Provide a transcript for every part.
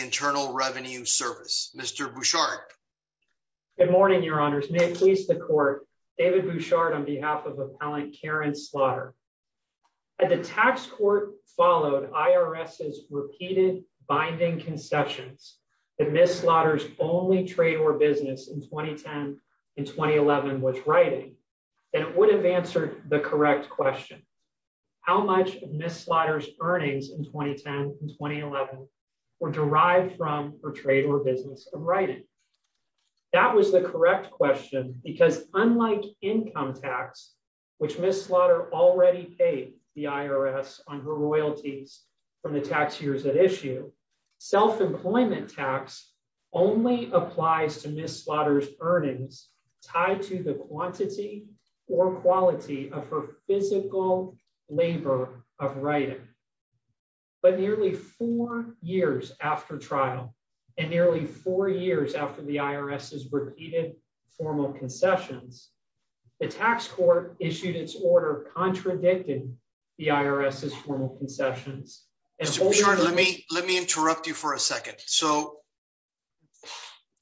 Internal Revenue Service, Mr. Bouchard. Good morning, Your Honors. May it please the Court, David Bouchard on behalf of Appellant Karen Slaughter. At the tax court followed IRS's repeated binding concessions that Ms. Slaughter and Mr. Bouchard were not able to comply with. If Ms. Slaughter's only trade or business in 2010 and 2011 was writing, then it would have answered the correct question. How much of Ms. Slaughter's earnings in 2010 and 2011 were derived from her trade or business of writing? That was the correct question because unlike income tax, which Ms. Slaughter already paid the IRS on her royalties from the tax years at issue, self-employment tax only applies to Ms. Slaughter's earnings tied to the quantity or quality of her physical labor of writing. But nearly four years after trial and nearly four years after the IRS's repeated formal concessions, the tax court issued its order contradicting the IRS's formal concessions. Mr. Bouchard, let me let me interrupt you for a second. So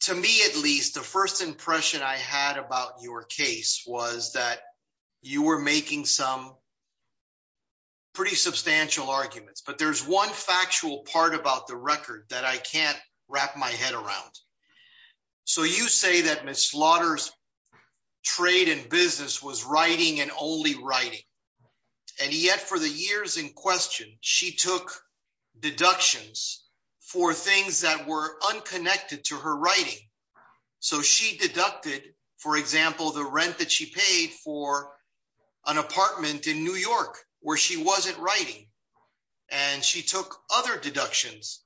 to me, at least the first impression I had about your case was that you were making some. Pretty substantial arguments, but there's one factual part about the record that I can't wrap my head around. So you say that Ms. Slaughter's trade and business was writing and only writing. And yet for the years in question, she took deductions for things that were unconnected to her writing. So she deducted, for example, the rent that she paid for an apartment in New York where she wasn't writing. And she took other deductions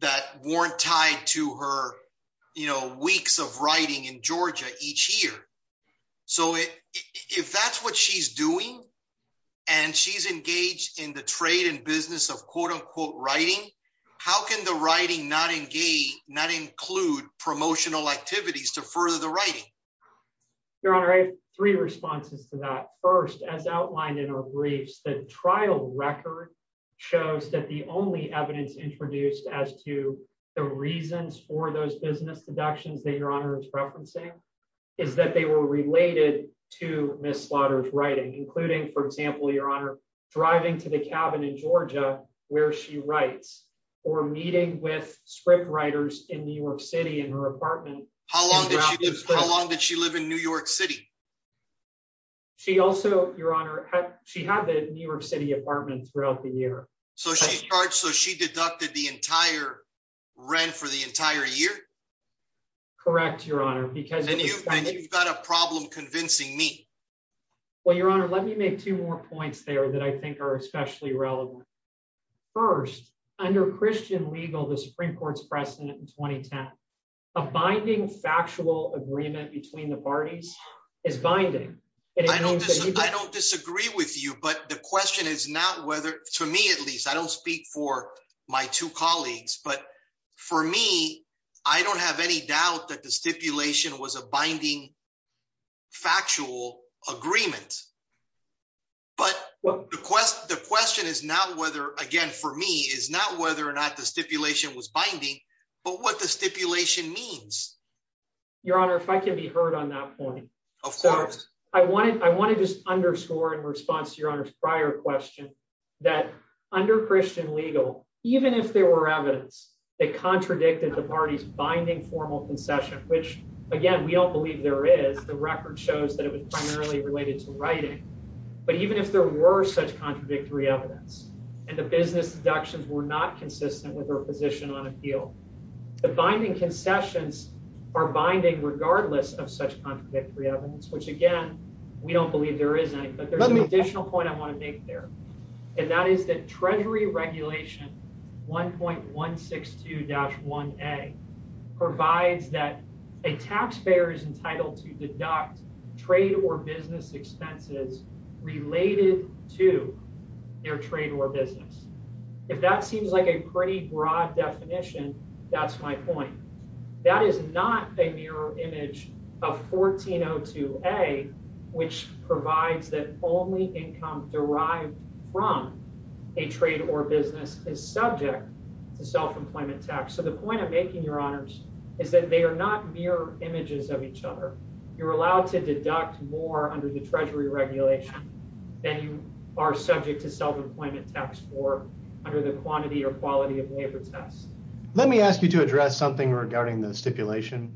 that weren't tied to her weeks of writing in Georgia each year. So if that's what she's doing and she's engaged in the trade and business of quote unquote writing, how can the writing not engage, not include promotional activities to further the writing? Your Honor, I have three responses to that. First, as outlined in our briefs, the trial record shows that the only evidence introduced as to the reasons for those business deductions that Your Honor is referencing is that they were related to Ms. Slaughter's writing, including, for example, Your Honor, driving to the cabin in Georgia where she writes or meeting with scriptwriters in New York City in her apartment. How long did she live in New York City? She also, Your Honor, she had the New York City apartment throughout the year. So she's charged, so she deducted the entire rent for the entire year? Correct, Your Honor. And you've got a problem convincing me. Well, Your Honor, let me make two more points there that I think are especially relevant. First, under Christian legal, the Supreme Court's precedent in 2010, a binding factual agreement between the parties is binding. I don't disagree with you, but the question is not whether, to me at least, I don't speak for my two colleagues, but for me, I don't have any doubt that the stipulation was a binding factual agreement. But the question is not whether, again, for me, is not whether or not the stipulation was binding, but what the stipulation means. Your Honor, if I can be heard on that point. Of course. I want to just underscore in response to Your Honor's prior question that under Christian legal, even if there were evidence that contradicted the parties' binding formal concession, which, again, we don't believe there is, the record shows that it was primarily related to writing, but even if there were such contradictory evidence and the business deductions were not consistent with her position on appeal, the binding concessions are binding regardless of such contradictory evidence, which, again, we don't believe there is any. But there's an additional point I want to make there, and that is that Treasury Regulation 1.162-1A provides that a taxpayer is entitled to deduct trade or business expenses related to their trade or business. If that seems like a pretty broad definition, that's my point. That is not a mirror image of 1402A, which provides that only income derived from a trade or business is subject to self-employment tax. So the point I'm making, Your Honors, is that they are not mirror images of each other. You're allowed to deduct more under the Treasury Regulation than you are subject to self-employment tax for under the quantity or quality of labor test. Let me ask you to address something regarding the stipulation.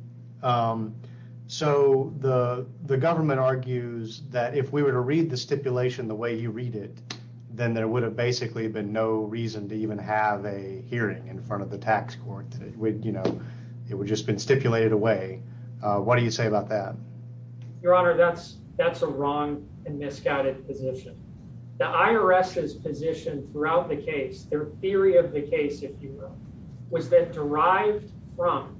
So the government argues that if we were to read the stipulation the way you read it, then there would have basically been no reason to even have a hearing in front of the tax court. It would have just been stipulated away. What do you say about that? Your Honor, that's a wrong and misguided position. The IRS's position throughout the case, their theory of the case, if you will, was that derived from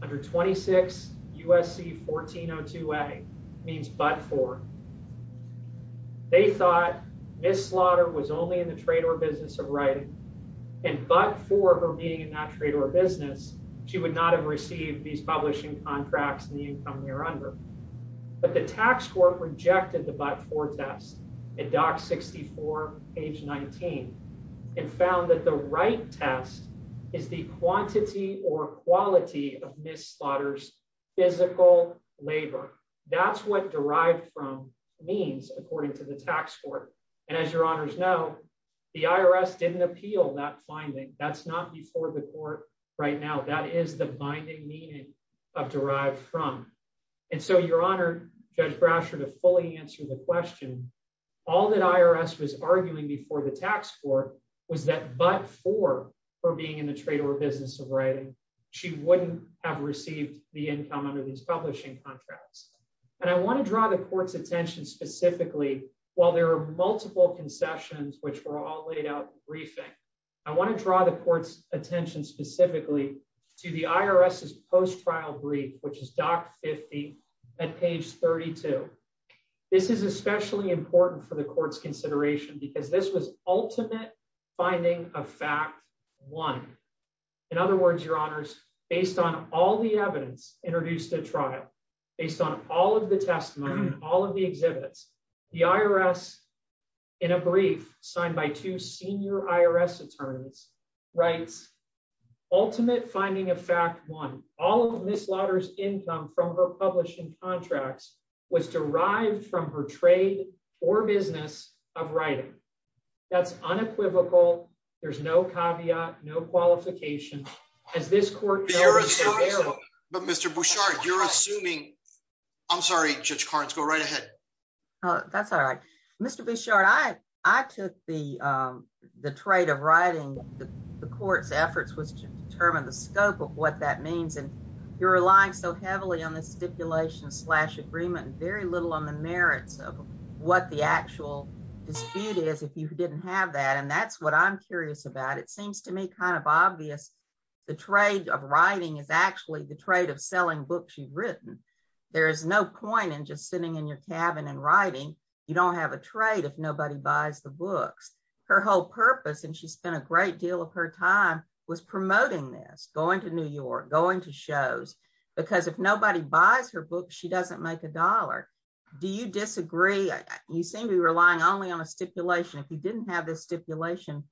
under 26 U.S.C. 1402A means but for. They thought missed slaughter was only in the trade or business of writing. And but for her being in that trade or business, she would not have received these publishing contracts and the income they're under. But the tax court rejected the but for test in Doc 64, page 19, and found that the right test is the quantity or quality of Miss Slaughter's physical labor. That's what derived from means, according to the tax court. And as your honors know, the IRS didn't appeal that finding. That's not before the court right now. That is the binding meaning of derived from. And so you're honored, Judge Brasher, to fully answer the question. All that IRS was arguing before the tax court was that but for her being in the trade or business of writing, she wouldn't have received the income under these publishing contracts. And I want to draw the court's attention specifically. While there are multiple concessions, which were all laid out briefing, I want to draw the court's attention specifically to the IRS's post trial brief, which is Doc 50 at page 32. This is especially important for the court's consideration because this was ultimate finding a fact. One. In other words, your honors, based on all the evidence introduced a trial, based on all of the testimony, all of the exhibits, the IRS. In a brief, signed by two senior IRS attorneys rights. Ultimate finding a fact one, all of this lotters income from her publishing contracts was derived from her trade or business of writing. That's unequivocal. There's no caveat, no qualification. As this court. But Mr Bouchard you're assuming. I'm sorry, just cards go right ahead. That's all right. Mr Bouchard I, I took the, the trade of writing the court's efforts was to determine the scope of what that means and you're relying so heavily on the stipulation slash agreement very little on the merits of what the actual dispute is if you didn't have that and that's what I'm curious about it seems to me kind of obvious. The trade of writing is actually the trade of selling books you've written. There is no point in just sitting in your cabin and writing. You don't have a trade if nobody buys the books, her whole purpose and she spent a great deal of her time was promoting this going to New York going to shows, because if nobody buys her book she doesn't make $1. Do you disagree. You seem to be relying only on a stipulation if you didn't have this stipulation.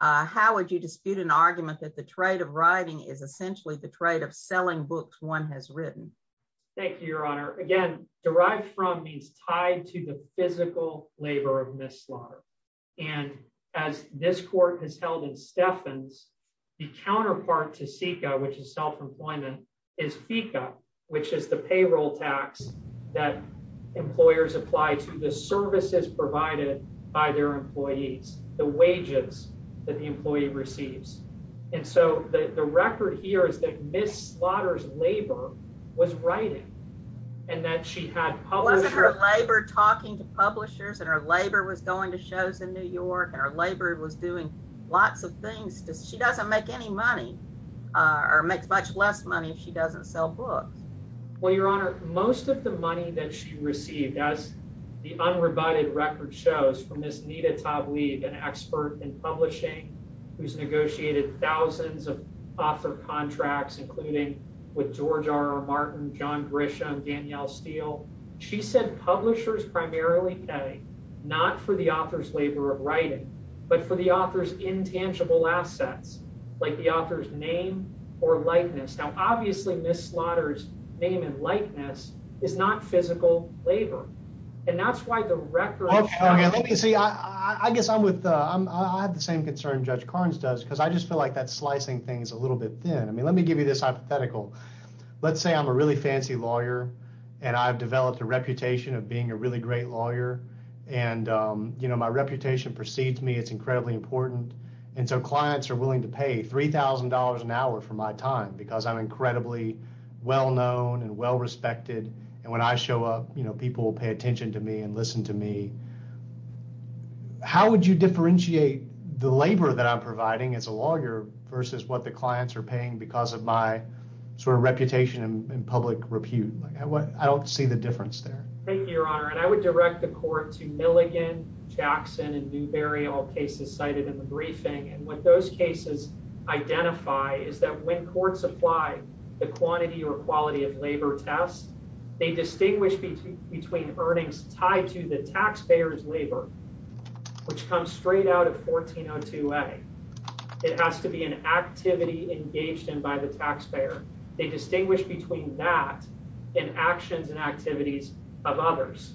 How would you dispute an argument that the trade of writing is essentially the trade of selling books one has written. Thank you, Your Honor, again, derived from these tied to the physical labor of mishap. And as this court has held in Stephens, the counterpart to seek out which is self employment is fika, which is the payroll tax that employers apply to the services provided by their employees, the wages that the employee receives. And so the record here is that Miss slaughters labor was writing, and that she had her labor talking to publishers and her labor was going to shows in New York and our labor was doing lots of things because she doesn't make any money, or makes much less money she doesn't sell books. Well, Your Honor, most of the money that she received as the unrebutted record shows from this need a top lead an expert in publishing, who's negotiated thousands of author contracts, including with George RR Martin john Grisham Danielle steel. She said publishers primarily not for the author's labor of writing, but for the authors intangible assets, like the author's name or likeness now obviously Miss slaughters name and likeness is not physical labor. And that's why the record. I guess I'm with, I have the same concern judge Carnes does because I just feel like that slicing things a little bit thin I mean let me give you this hypothetical. Let's say I'm a really fancy lawyer, and I've developed a reputation of being a really great lawyer. And, you know, my reputation precedes me it's incredibly important. And so clients are willing to pay $3,000 an hour for my time because I'm incredibly well known and well respected. And when I show up, you know, people pay attention to me and listen to me. How would you differentiate the labor that I'm providing as a lawyer, versus what the clients are paying because of my sort of reputation and public repute. I don't see the difference there. Thank you, Your Honor, and I would direct the court to Milligan Jackson and new burial cases cited in the briefing and what those cases, identify is that when courts apply the quantity or quality of labor tests, they distinguish between between earnings tied to the taxpayers labor, which comes straight out of 1402 a. It has to be an activity engaged in by the taxpayer, they distinguish between that in actions and activities of others.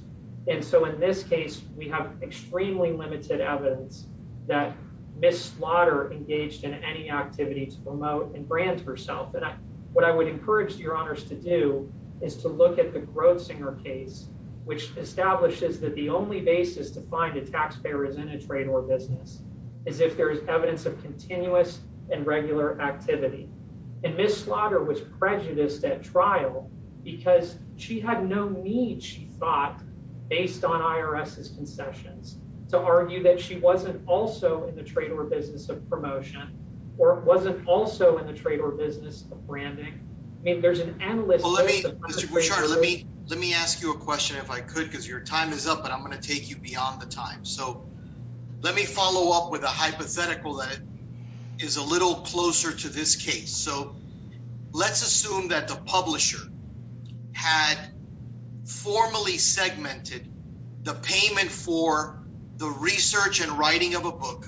And so in this case, we have extremely limited evidence that Miss slaughter engaged in any activity to promote and brand herself that what I would encourage your honors to do is to look at the grossing or case, which establishes that the only basis to find a taxpayer is in a trade or business is if there's evidence of continuous and regular activity and Miss slaughter was prejudiced at trial, because she had no need she thought, based on IRS is concessions to argue that she wasn't also in the trade or business of promotion, or wasn't also in the trade or business of branding. Maybe there's an analyst. Let me, let me ask you a question if I could because your time is up but I'm going to take you beyond the time so let me follow up with a hypothetical that is a little closer to this case so let's assume that the publisher had formally segmented the payment for the research and writing of a book,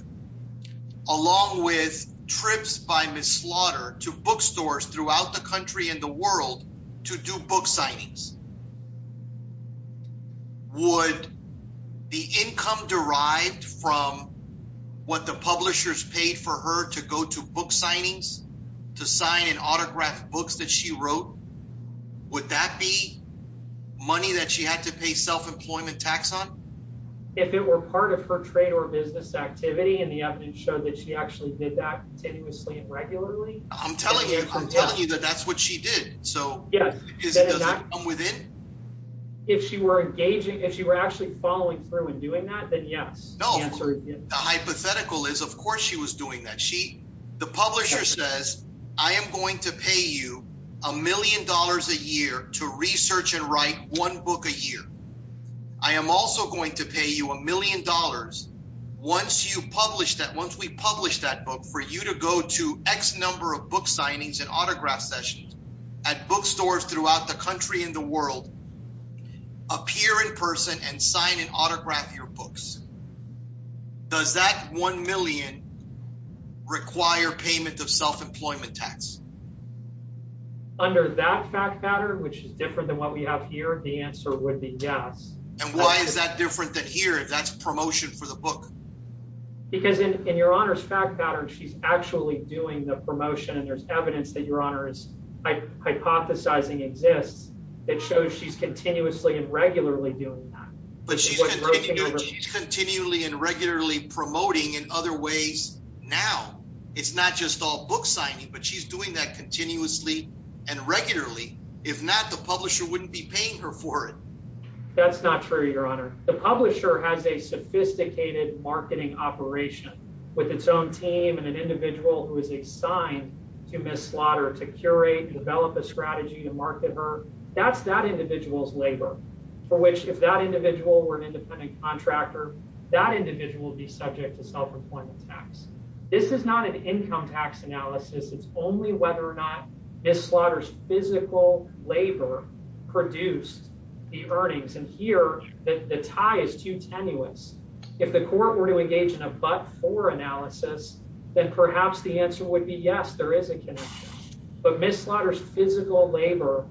along with trips by Miss slaughter to bookstores throughout the country and the world to do book signings would the income derived from what the publishers paid for her to go to book signings to sign and autograph books that she wrote. Would that be money that she had to pay self employment tax on. If it were part of her trade or business activity and the evidence showed that she actually did that continuously and regularly. I'm telling you, I'm telling you that that's what she did. So, yes, within. If she were engaging if you were actually following through and doing that then yes, no, the hypothetical is of course she was doing that she, the publisher says, I am going to pay you a million dollars a year to research and write one book a year. I am also going to pay you a million dollars. Once you publish that once we publish that book for you to go to X number of book signings and autograph sessions at bookstores throughout the country in the world. Appear in person and sign and autograph your books. Does that 1 million require payment of self employment tax. Under that fact pattern which is different than what we have here, the answer would be yes. And why is that different than here that's promotion for the book. Because in your honor's fact pattern she's actually doing the promotion and there's evidence that your honor is hypothesizing exists. It shows she's continuously and regularly doing that. Continually and regularly promoting and other ways. Now, it's not just all book signing but she's doing that continuously and regularly. If not, the publisher wouldn't be paying her for it. That's not true, your honor, the publisher has a sophisticated marketing operation with its own team and an individual who is assigned to Miss slaughter to curate develop a strategy to market her. That's that individual's labor for which if that individual were an independent contractor, that individual will be subject to self employment tax. This is not an income tax analysis it's only whether or not this slaughters physical labor produced the earnings and here that the tie is too tenuous. If the court were to engage in a but for analysis, then perhaps the answer would be yes there is a connection, but Miss slaughters physical labor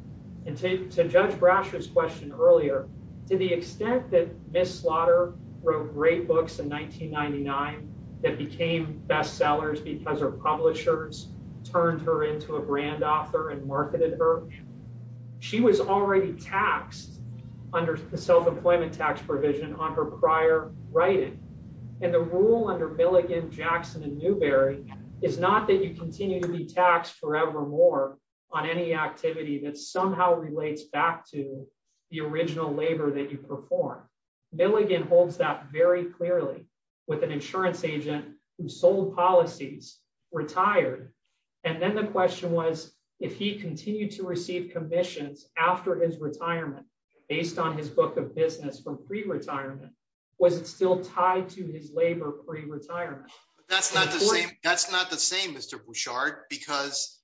and take to judge brushes question earlier, to the extent that Miss slaughter wrote great books in 1999, that became bestsellers because publishers turned her into a brand author and marketed her. She was already taxed under the self employment tax provision on her prior writing, and the rule under Milligan Jackson and Newberry is not that you continue to be taxed forever more on any activity that somehow relates back to the original labor that you perform Bill again holds that very clearly with an insurance agent who sold policies retired. And then the question was, if he continued to receive commissions after his retirement, based on his book of business from pre retirement, was it still tied to his labor pre retirement. That's not the same, that's not the same Mr. Bouchard, because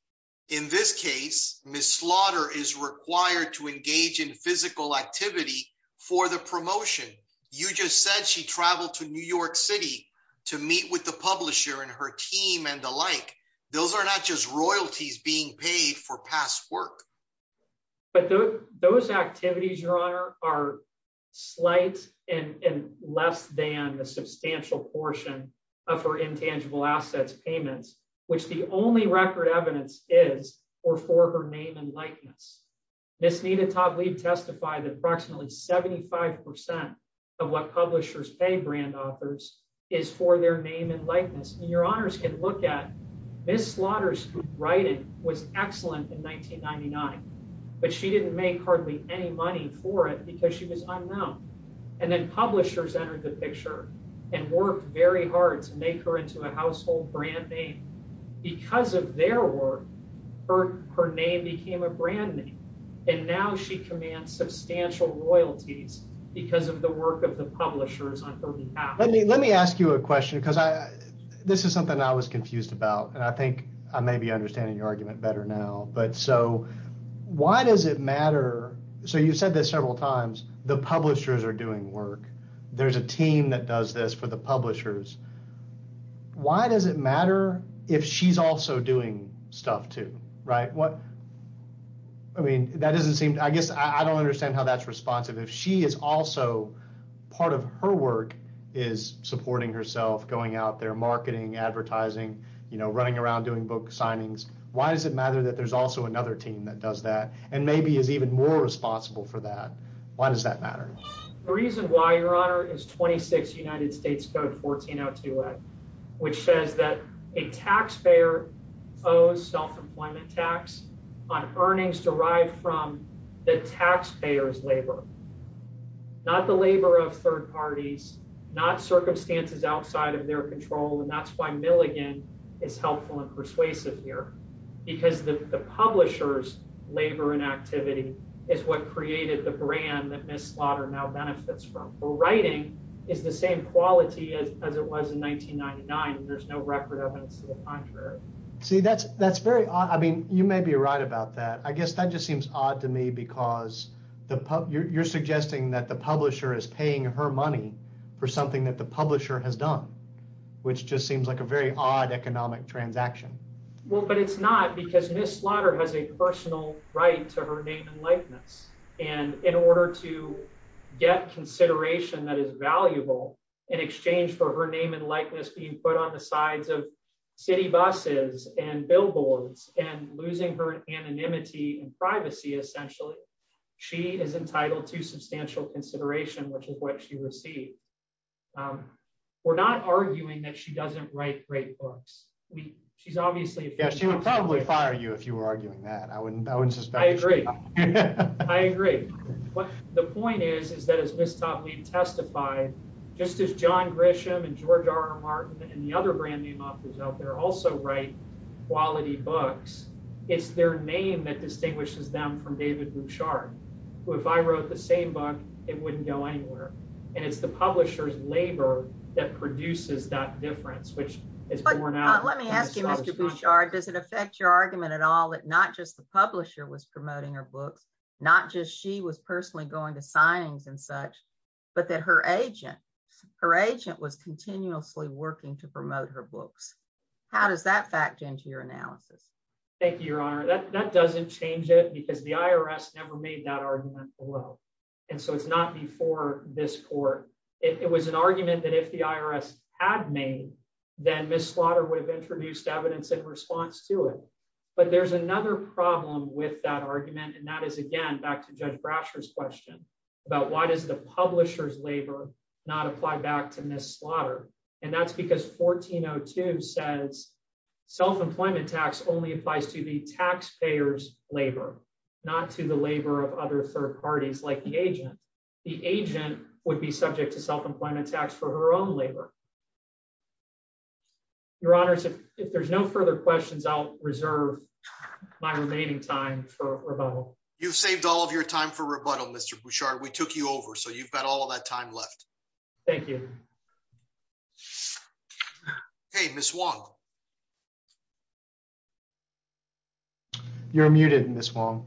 in this case, Miss slaughter is required to engage in physical activity for the promotion. You just said she traveled to New York City to meet with the publisher and her team and the like. Those are not just royalties being paid for past work. But those activities your honor are slight and less than a substantial portion of her intangible assets payments, which the only record evidence is or for her name and likeness. Miss Nina top lead testify that approximately 75% of what publishers pay brand authors is for their name and likeness and your honors can look at this slaughters writing was excellent in 1999, but she didn't make hardly any money for it because she was And now she commands substantial royalties, because of the work of the publishers on her behalf, let me let me ask you a question because I, this is something I was confused about and I think I may be understanding your argument better now but so why does it matter. So you said this several times, the publishers are doing work. There's a team that does this for the publishers. Why does it matter if she's also doing stuff to write what I mean that doesn't seem I guess I don't understand how that's responsive if she is also part of her work is supporting herself going out there marketing advertising, you know, running around doing book signings, why does it matter that there's also another team that does that, and maybe is even more responsible for that. Why does that matter. The reason why your honor is 26 United States Code 14 out to it, which says that a taxpayer owes self employment tax on earnings derived from the taxpayers labor, not the labor of third parties, not circumstances outside of their control and that's why Milligan is helpful and persuasive here, because the publishers labor and activity is what created the brand that Miss slaughter now benefits from writing is the same quality as it was in 1999 and there's no record of it. See that's, that's very odd I mean you may be right about that I guess that just seems odd to me because the pub you're suggesting that the publisher is paying her money for something that the publisher has done, which just seems like a very odd economic transaction. Well, but it's not because Miss slaughter has a personal right to her name and likeness, and in order to get consideration that is valuable in exchange for her name and likeness being put on the sides of city buses and billboards and losing her anonymity and privacy essentially. She is entitled to substantial consideration which is what she received. We're not arguing that she doesn't write great books. We, she's obviously a guest you would probably fire you if you were arguing that I wouldn't, I wouldn't suspect I agree. I agree. What the point is, is that as this topic testify, just as john Grisham and George RR Martin and the other brand name authors out there also write quality books. It's their name that distinguishes them from David Bouchard, who if I wrote the same book, it wouldn't go anywhere. And it's the publishers labor that produces that difference which is, let me ask you, Mr. argument at all that not just the publisher was promoting her books, not just she was personally going to signings and such, but that her agent, her agent was continuously working to promote her books. How does that fact into your analysis. Thank you, your honor that doesn't change it because the IRS never made that argument below. And so it's not before this court. It was an argument that if the IRS had made, then Miss slaughter would have introduced evidence in response to it. But there's another problem with that argument and that is again back to judge brashers question about why does the publishers labor, not apply it to self employment tax for her own labor. Your honors, if there's no further questions I'll reserve my remaining time for rebuttal, you've saved all of your time for rebuttal Mr Bouchard we took you over so you've got all that time left. Thank you. Hey, Miss Wong. You're muted Miss Wong.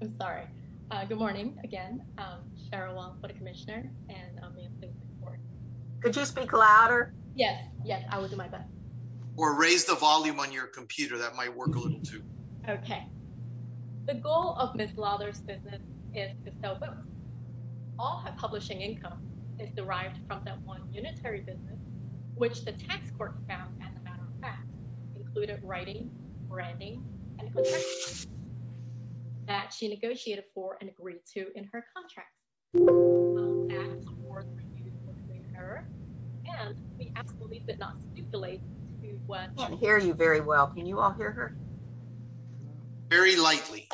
I'm sorry. Good morning again. Could you speak louder. Yes, yes, I will do my best, or raise the volume on your computer that might work a little too. Okay. The goal of Miss lovers business is to sell books, all have publishing income is derived from that one unitary business, which the tax court found included writing branding that she negotiated for and agreed to in her contract. For her. And we actually did not stipulate what can hear you very well can you all hear her. Very lightly.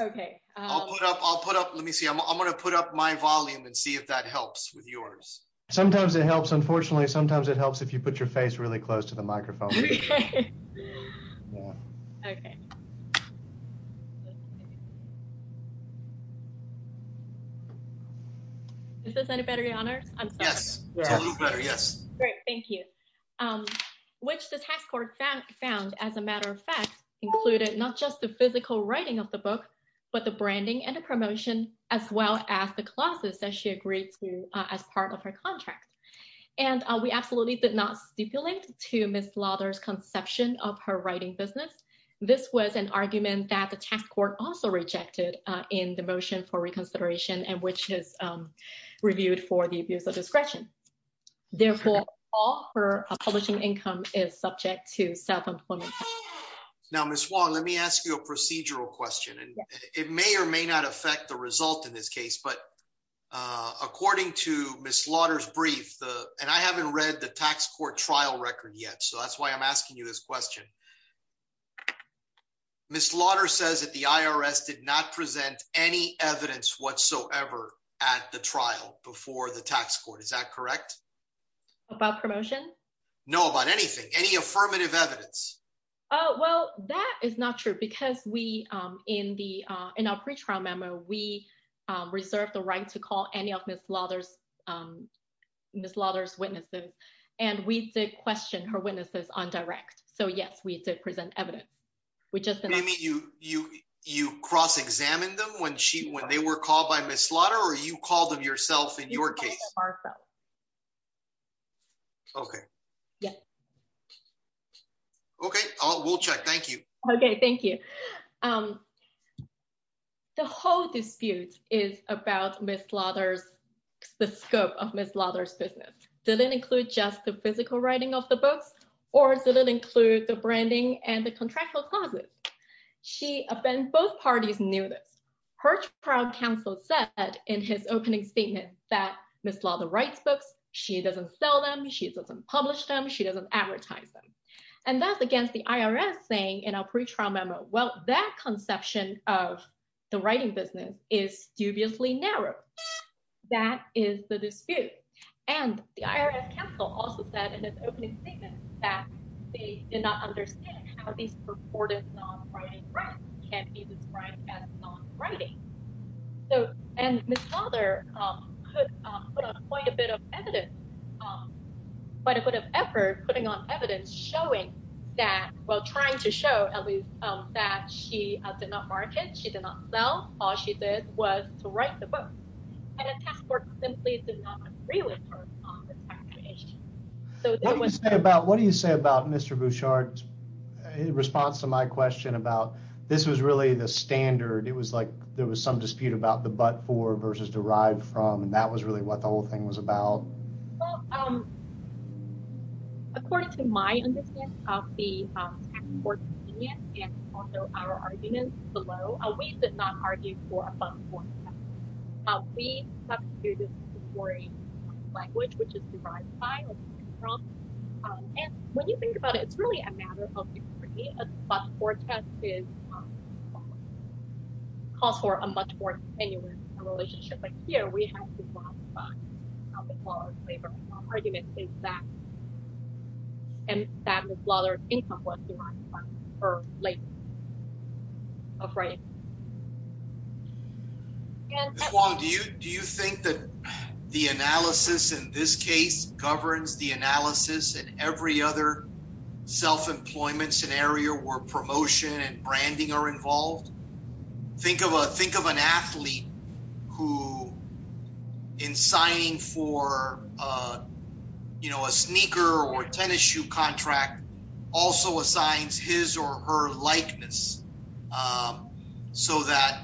Okay, I'll put up I'll put up let me see I'm going to put up my volume and see if that helps with yours. Sometimes it helps unfortunately sometimes it helps if you put your face really close to the microphone. Okay. Okay. Is this any better your honor. I'm sorry. Yes. Yes. Great. Thank you. Which the tax court found found as a matter of fact, included, not just the physical writing of the book, but the branding and a promotion, as well as the classes that she agreed to as part of her contract. And we absolutely did not stipulate to Miss lovers conception of her writing business. This was an argument that the tax court also rejected in the motion for reconsideration and which is reviewed for the abuse of discretion. Therefore, all her publishing income is subject to self employment. Now Miss wall, let me ask you a procedural question and it may or may not affect the result in this case but according to Miss slaughters brief, and I haven't read the tax court trial record yet so that's why I'm asking you this question. Miss slaughter says that the IRS did not present any evidence whatsoever at the trial before the tax court is that correct. About promotion. No about anything any affirmative evidence. Oh, well, that is not true because we in the in our pre trial memo we reserve the right to call any of this lovers. Miss lovers witnesses, and we did question her witnesses on direct so yes we did present evidence. We just didn't meet you, you, you cross examine them when she when they were called by Miss slaughter or you call them yourself in your case. Okay. Yeah. Okay, we'll check. Thank you. Okay, thank you. The whole dispute is about Miss slaughters. The scope of Miss lovers business didn't include just the physical writing of the books, or is it include the branding and the contractual clauses. She been both parties knew this her trial counsel said that in his opening statement that Miss law the rights books, she doesn't sell them she doesn't publish them she doesn't advertise them. And that's against the IRS saying in our pre trial memo well that conception of the writing business is dubiously narrow. That is the dispute, and the IRS counsel also said in his opening statement that they did not understand how these purported non writing rights can be described as non writing. So, and the father. Quite a bit of evidence. But it would have ever putting on evidence showing that while trying to show at least that she did not market she did not sell all she did was to write the book. Simply. So what do you say about what do you say about Mr Bouchard response to my question about this was really the standard it was like there was some dispute about the but for versus derived from and that was really what the whole thing was about. According to my argument below, we did not argue for a language which is when you think about it, it's really a matter of argument is that and that was rather incomplete. Or, like, afraid. Do you do you think that the analysis in this case governs the analysis and every other self employment scenario where promotion and branding are involved. Think of a think of an athlete who in signing for, you know, a sneaker or tennis shoe contract also assigns his or her likeness. So that,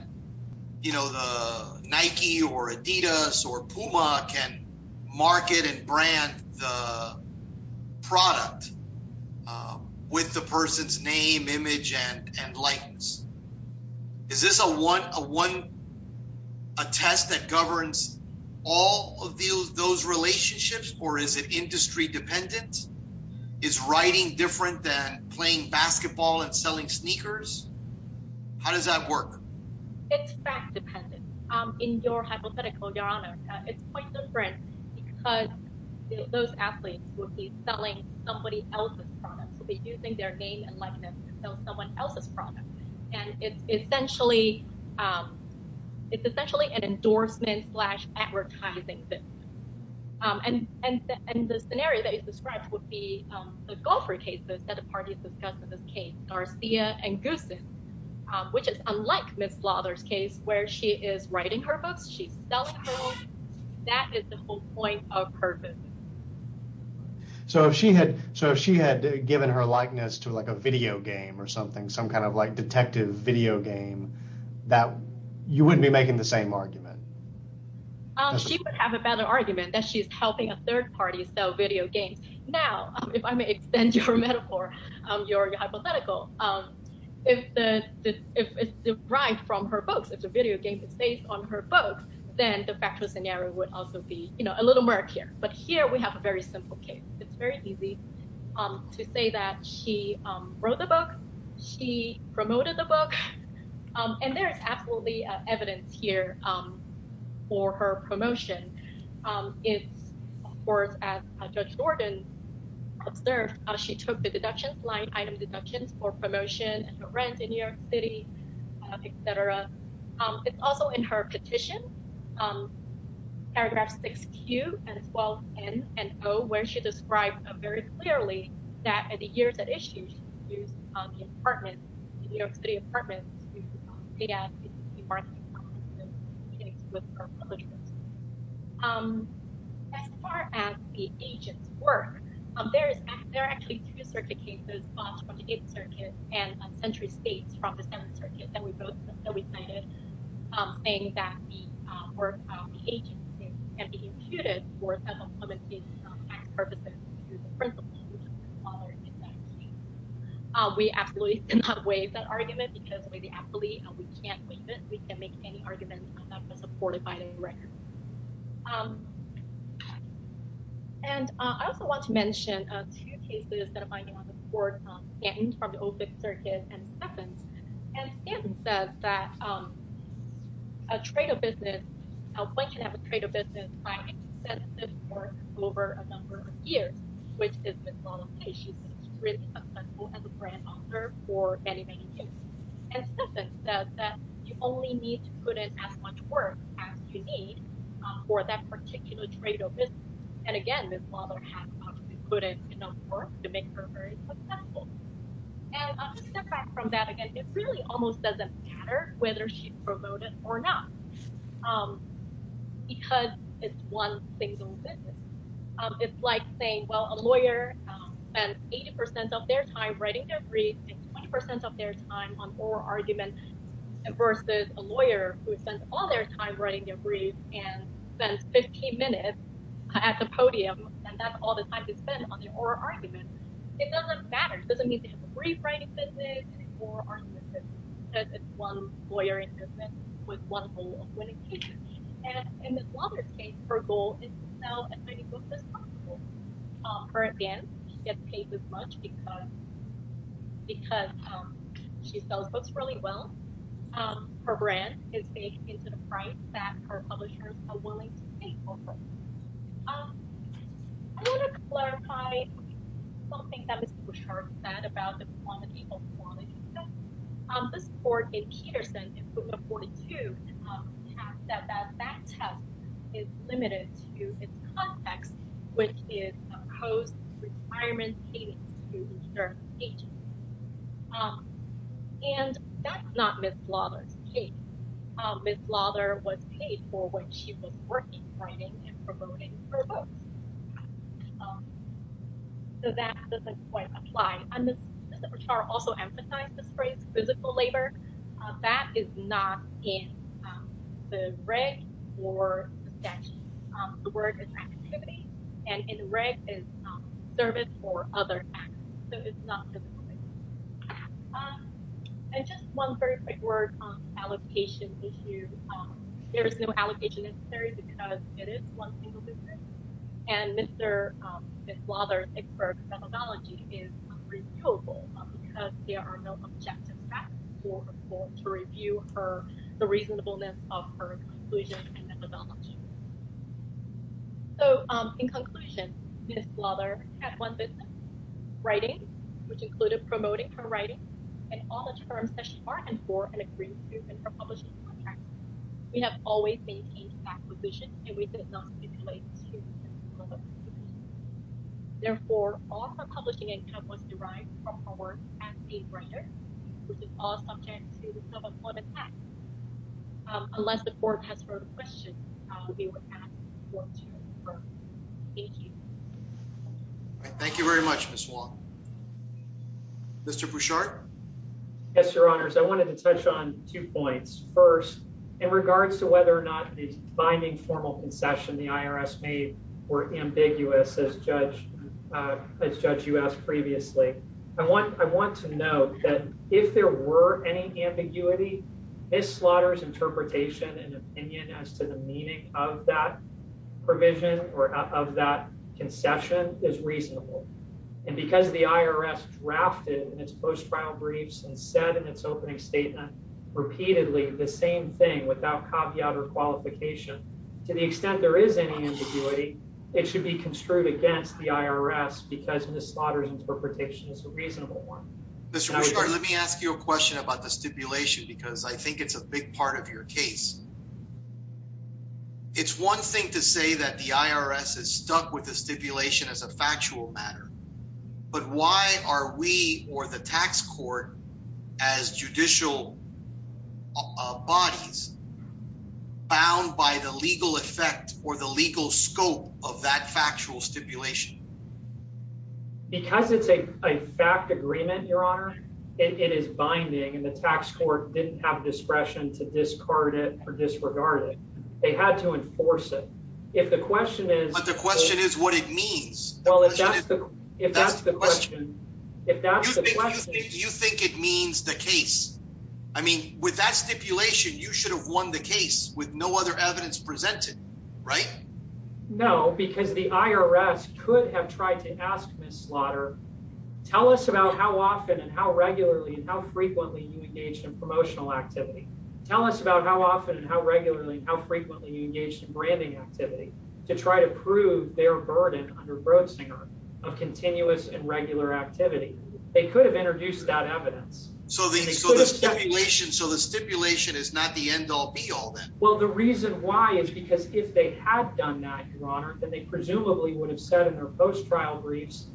you know, the Nike or Adidas or Puma can market and brand the product. With the person's name image and and likeness. Is this a one a one a test that governs all of those relationships or is it industry dependent is writing different than playing basketball and selling sneakers. How does that work. It's fact dependent in your hypothetical your honor. It's quite different. Those athletes will be selling somebody else's products will be using their name and likeness someone else's product. And it's essentially It's essentially an endorsement slash advertising. And, and, and the scenario that you described would be the golfer cases that the parties discussed in this case Garcia and goose. Which is unlike Miss fathers case where she is writing her books. She's selling. That is the whole point of purpose. So if she had. So if she had given her likeness to like a video game or something, some kind of like detective video game that you wouldn't be making the same argument. She would have a better argument that she's helping a third party. So video games. Now, if I may extend your metaphor, your hypothetical If the if it's derived from her books. It's a video game that stays on her books, then the factual scenario would also be, you know, a little mark here. But here we have a very simple case. It's very easy. To say that she wrote the book. She promoted the book and there's absolutely evidence here. For her promotion. It's worth as a judge Jordan observe how she took the deductions line item deductions for promotion and rent in New York City, etc. It's also in her petition. Paragraph six Q and 12 and and go where she described a very clearly that at the years that issues on the apartment New York City apartment. As far as the agents work, there's, there are actually two circuit cases circuit and century states from the Senate circuit that we both know we cited. We absolutely cannot waive that argument because we absolutely can't leave it. We can make any argument supported by the record. And I also want to mention two cases that are binding on the court from the open circuit and happens. And it says that A trade of business. Over a number of years, which is As a brand author for any That you only need to put in as much work as you need for that particular trade of business. And again, this mother has put in enough work to make her Step back from that. Again, it's really almost doesn't matter whether she promoted or not. Because it's one single It's like saying, well, a lawyer and 80% of their time writing their brief and 20% of their time on or argument. Versus a lawyer who spent all their time writing a brief and then 15 minutes at the podium and that's all the time to spend on your argument. It doesn't matter. It doesn't mean to have a brief writing business or One lawyer in business with one In this case, her goal is For advance get paid as much because Because she sells books really well. Her brand is big into the price that her publishers are willing to pay for Which is And that's not Miss Lauderdale Miss Lauderdale was paid for what she was working So that doesn't quite apply. I'm also emphasize this phrase physical labor. That is not in The reg or The word is activity and in the reg is service or other And just one very quick word on allocation issues. There is no allocation necessary because it is one single business. And Mr. Lauderdale methodology is There are no objective To review for the reasonableness of her conclusion methodology. So in conclusion, Miss Lauderdale had one business writing, which included promoting her writing and all the terms that she bargained for and agreed to in her publishing contract. We have always maintained acquisition and we did not stipulate Therefore, all her publishing income was derived from her work as a writer, which is all subject to self-employment tax. Unless the court has further questions, we will ask the court to refer. Thank you. Thank you very much, Miss Wong. Mr. Bouchard. Yes, Your Honors. I wanted to touch on two points. First, in regards to whether or not the binding formal concession, the IRS made were ambiguous as judge As Judge, you asked previously. I want, I want to know that if there were any ambiguity, Miss Slaughter's interpretation and opinion as to the meaning of that Concession is reasonable and because the IRS drafted in its post-trial briefs and said in its opening statement repeatedly the same thing without caveat or qualification. To the extent there is any ambiguity, it should be construed against the IRS because Miss Slaughter's interpretation is a reasonable one. Mr. Bouchard, let me ask you a question about the stipulation because I think it's a big part of your case. It's one thing to say that the IRS is stuck with the stipulation as a factual matter, but why are we or the tax court as judicial bodies bound by the legal effect or the legal scope of that factual stipulation? Because it's a fact agreement, Your Honor. It is binding and the tax court didn't have discretion to discard it or disregard it. They had to enforce it. But the question is what it means. Well, if that's the question. You think it means the case. I mean, with that stipulation, you should have won the case with no other evidence presented, right? No, because the IRS could have tried to ask Miss Slaughter, tell us about how often and how regularly and how frequently you engaged in promotional activity. Tell us about how often and how regularly and how frequently you engaged in branding activity to try to prove their burden under Brodsinger of continuous and regular activity. They could have introduced that evidence. So the stipulation is not the end-all be-all then? Well, the reason why is because if they had done that, Your Honor, then they presumably would have said in their post-trial briefs,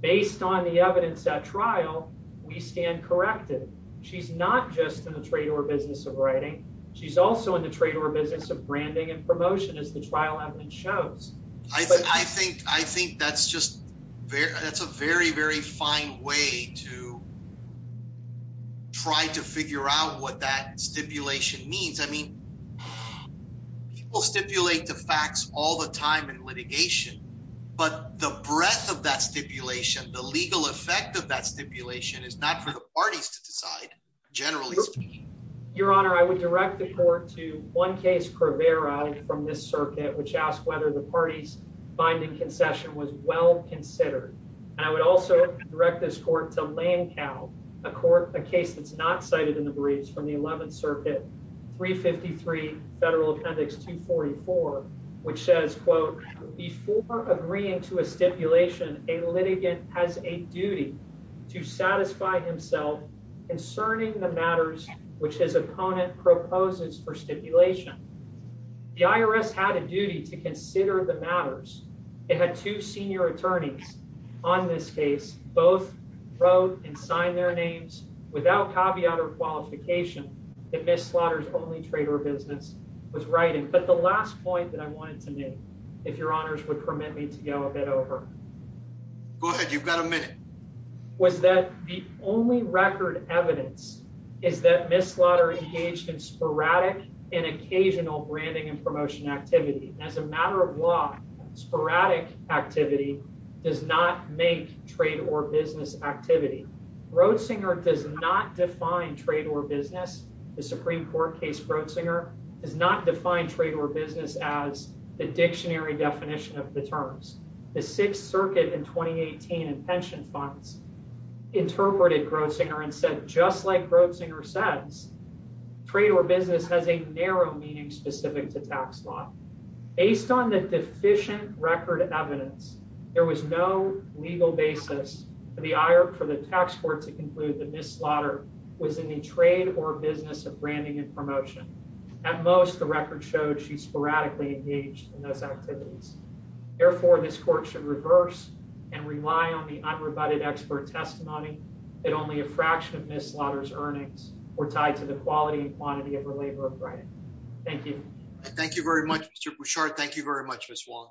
based on the evidence at trial, we stand corrected. She's not just in the trade or business of writing. She's also in the trade or business of branding and promotion as the trial evidence shows. I think that's a very, very fine way to try to figure out what that stipulation means. I mean, people stipulate the facts all the time in litigation, but the breadth of that stipulation, the legal effect of that stipulation is not for the parties to decide, generally speaking. Your Honor, I would direct the court to one case, Crivera, from this circuit, which asked whether the party's binding concession was well-considered. And I would also direct this court to Lancao, a case that's not cited in the briefs from the 11th Circuit, 353 Federal Appendix 244, which says, quote, before agreeing to a stipulation, a litigant has a duty to satisfy himself concerning the matters which his opponent proposes for stipulation. The IRS had a duty to consider the matters. It had two senior attorneys on this case. Both wrote and signed their names without caveat or qualification that Miss Slaughter's only trade or business was writing. But the last point that I wanted to make, if Your Honors would permit me to go a bit over. Go ahead. You've got a minute. Was that the only record evidence is that Miss Slaughter engaged in sporadic and occasional branding and promotion activity. As a matter of law, sporadic activity does not make trade or business activity. Groszinger does not define trade or business. The Supreme Court case Groszinger does not define trade or business as the dictionary definition of the terms. The Sixth Circuit in 2018 and pension funds interpreted Groszinger and said, just like Groszinger says, trade or business has a narrow meaning specific to tax law. Based on the deficient record evidence, there was no legal basis for the tax court to conclude that Miss Slaughter was in the trade or business of branding and promotion. At most, the record showed she sporadically engaged in those activities. Therefore, this court should reverse and rely on the unrebutted expert testimony that only a fraction of Miss Slaughter's earnings were tied to the quality and quantity of her labor of writing. Thank you. Richard, thank you very much, Miss Wong.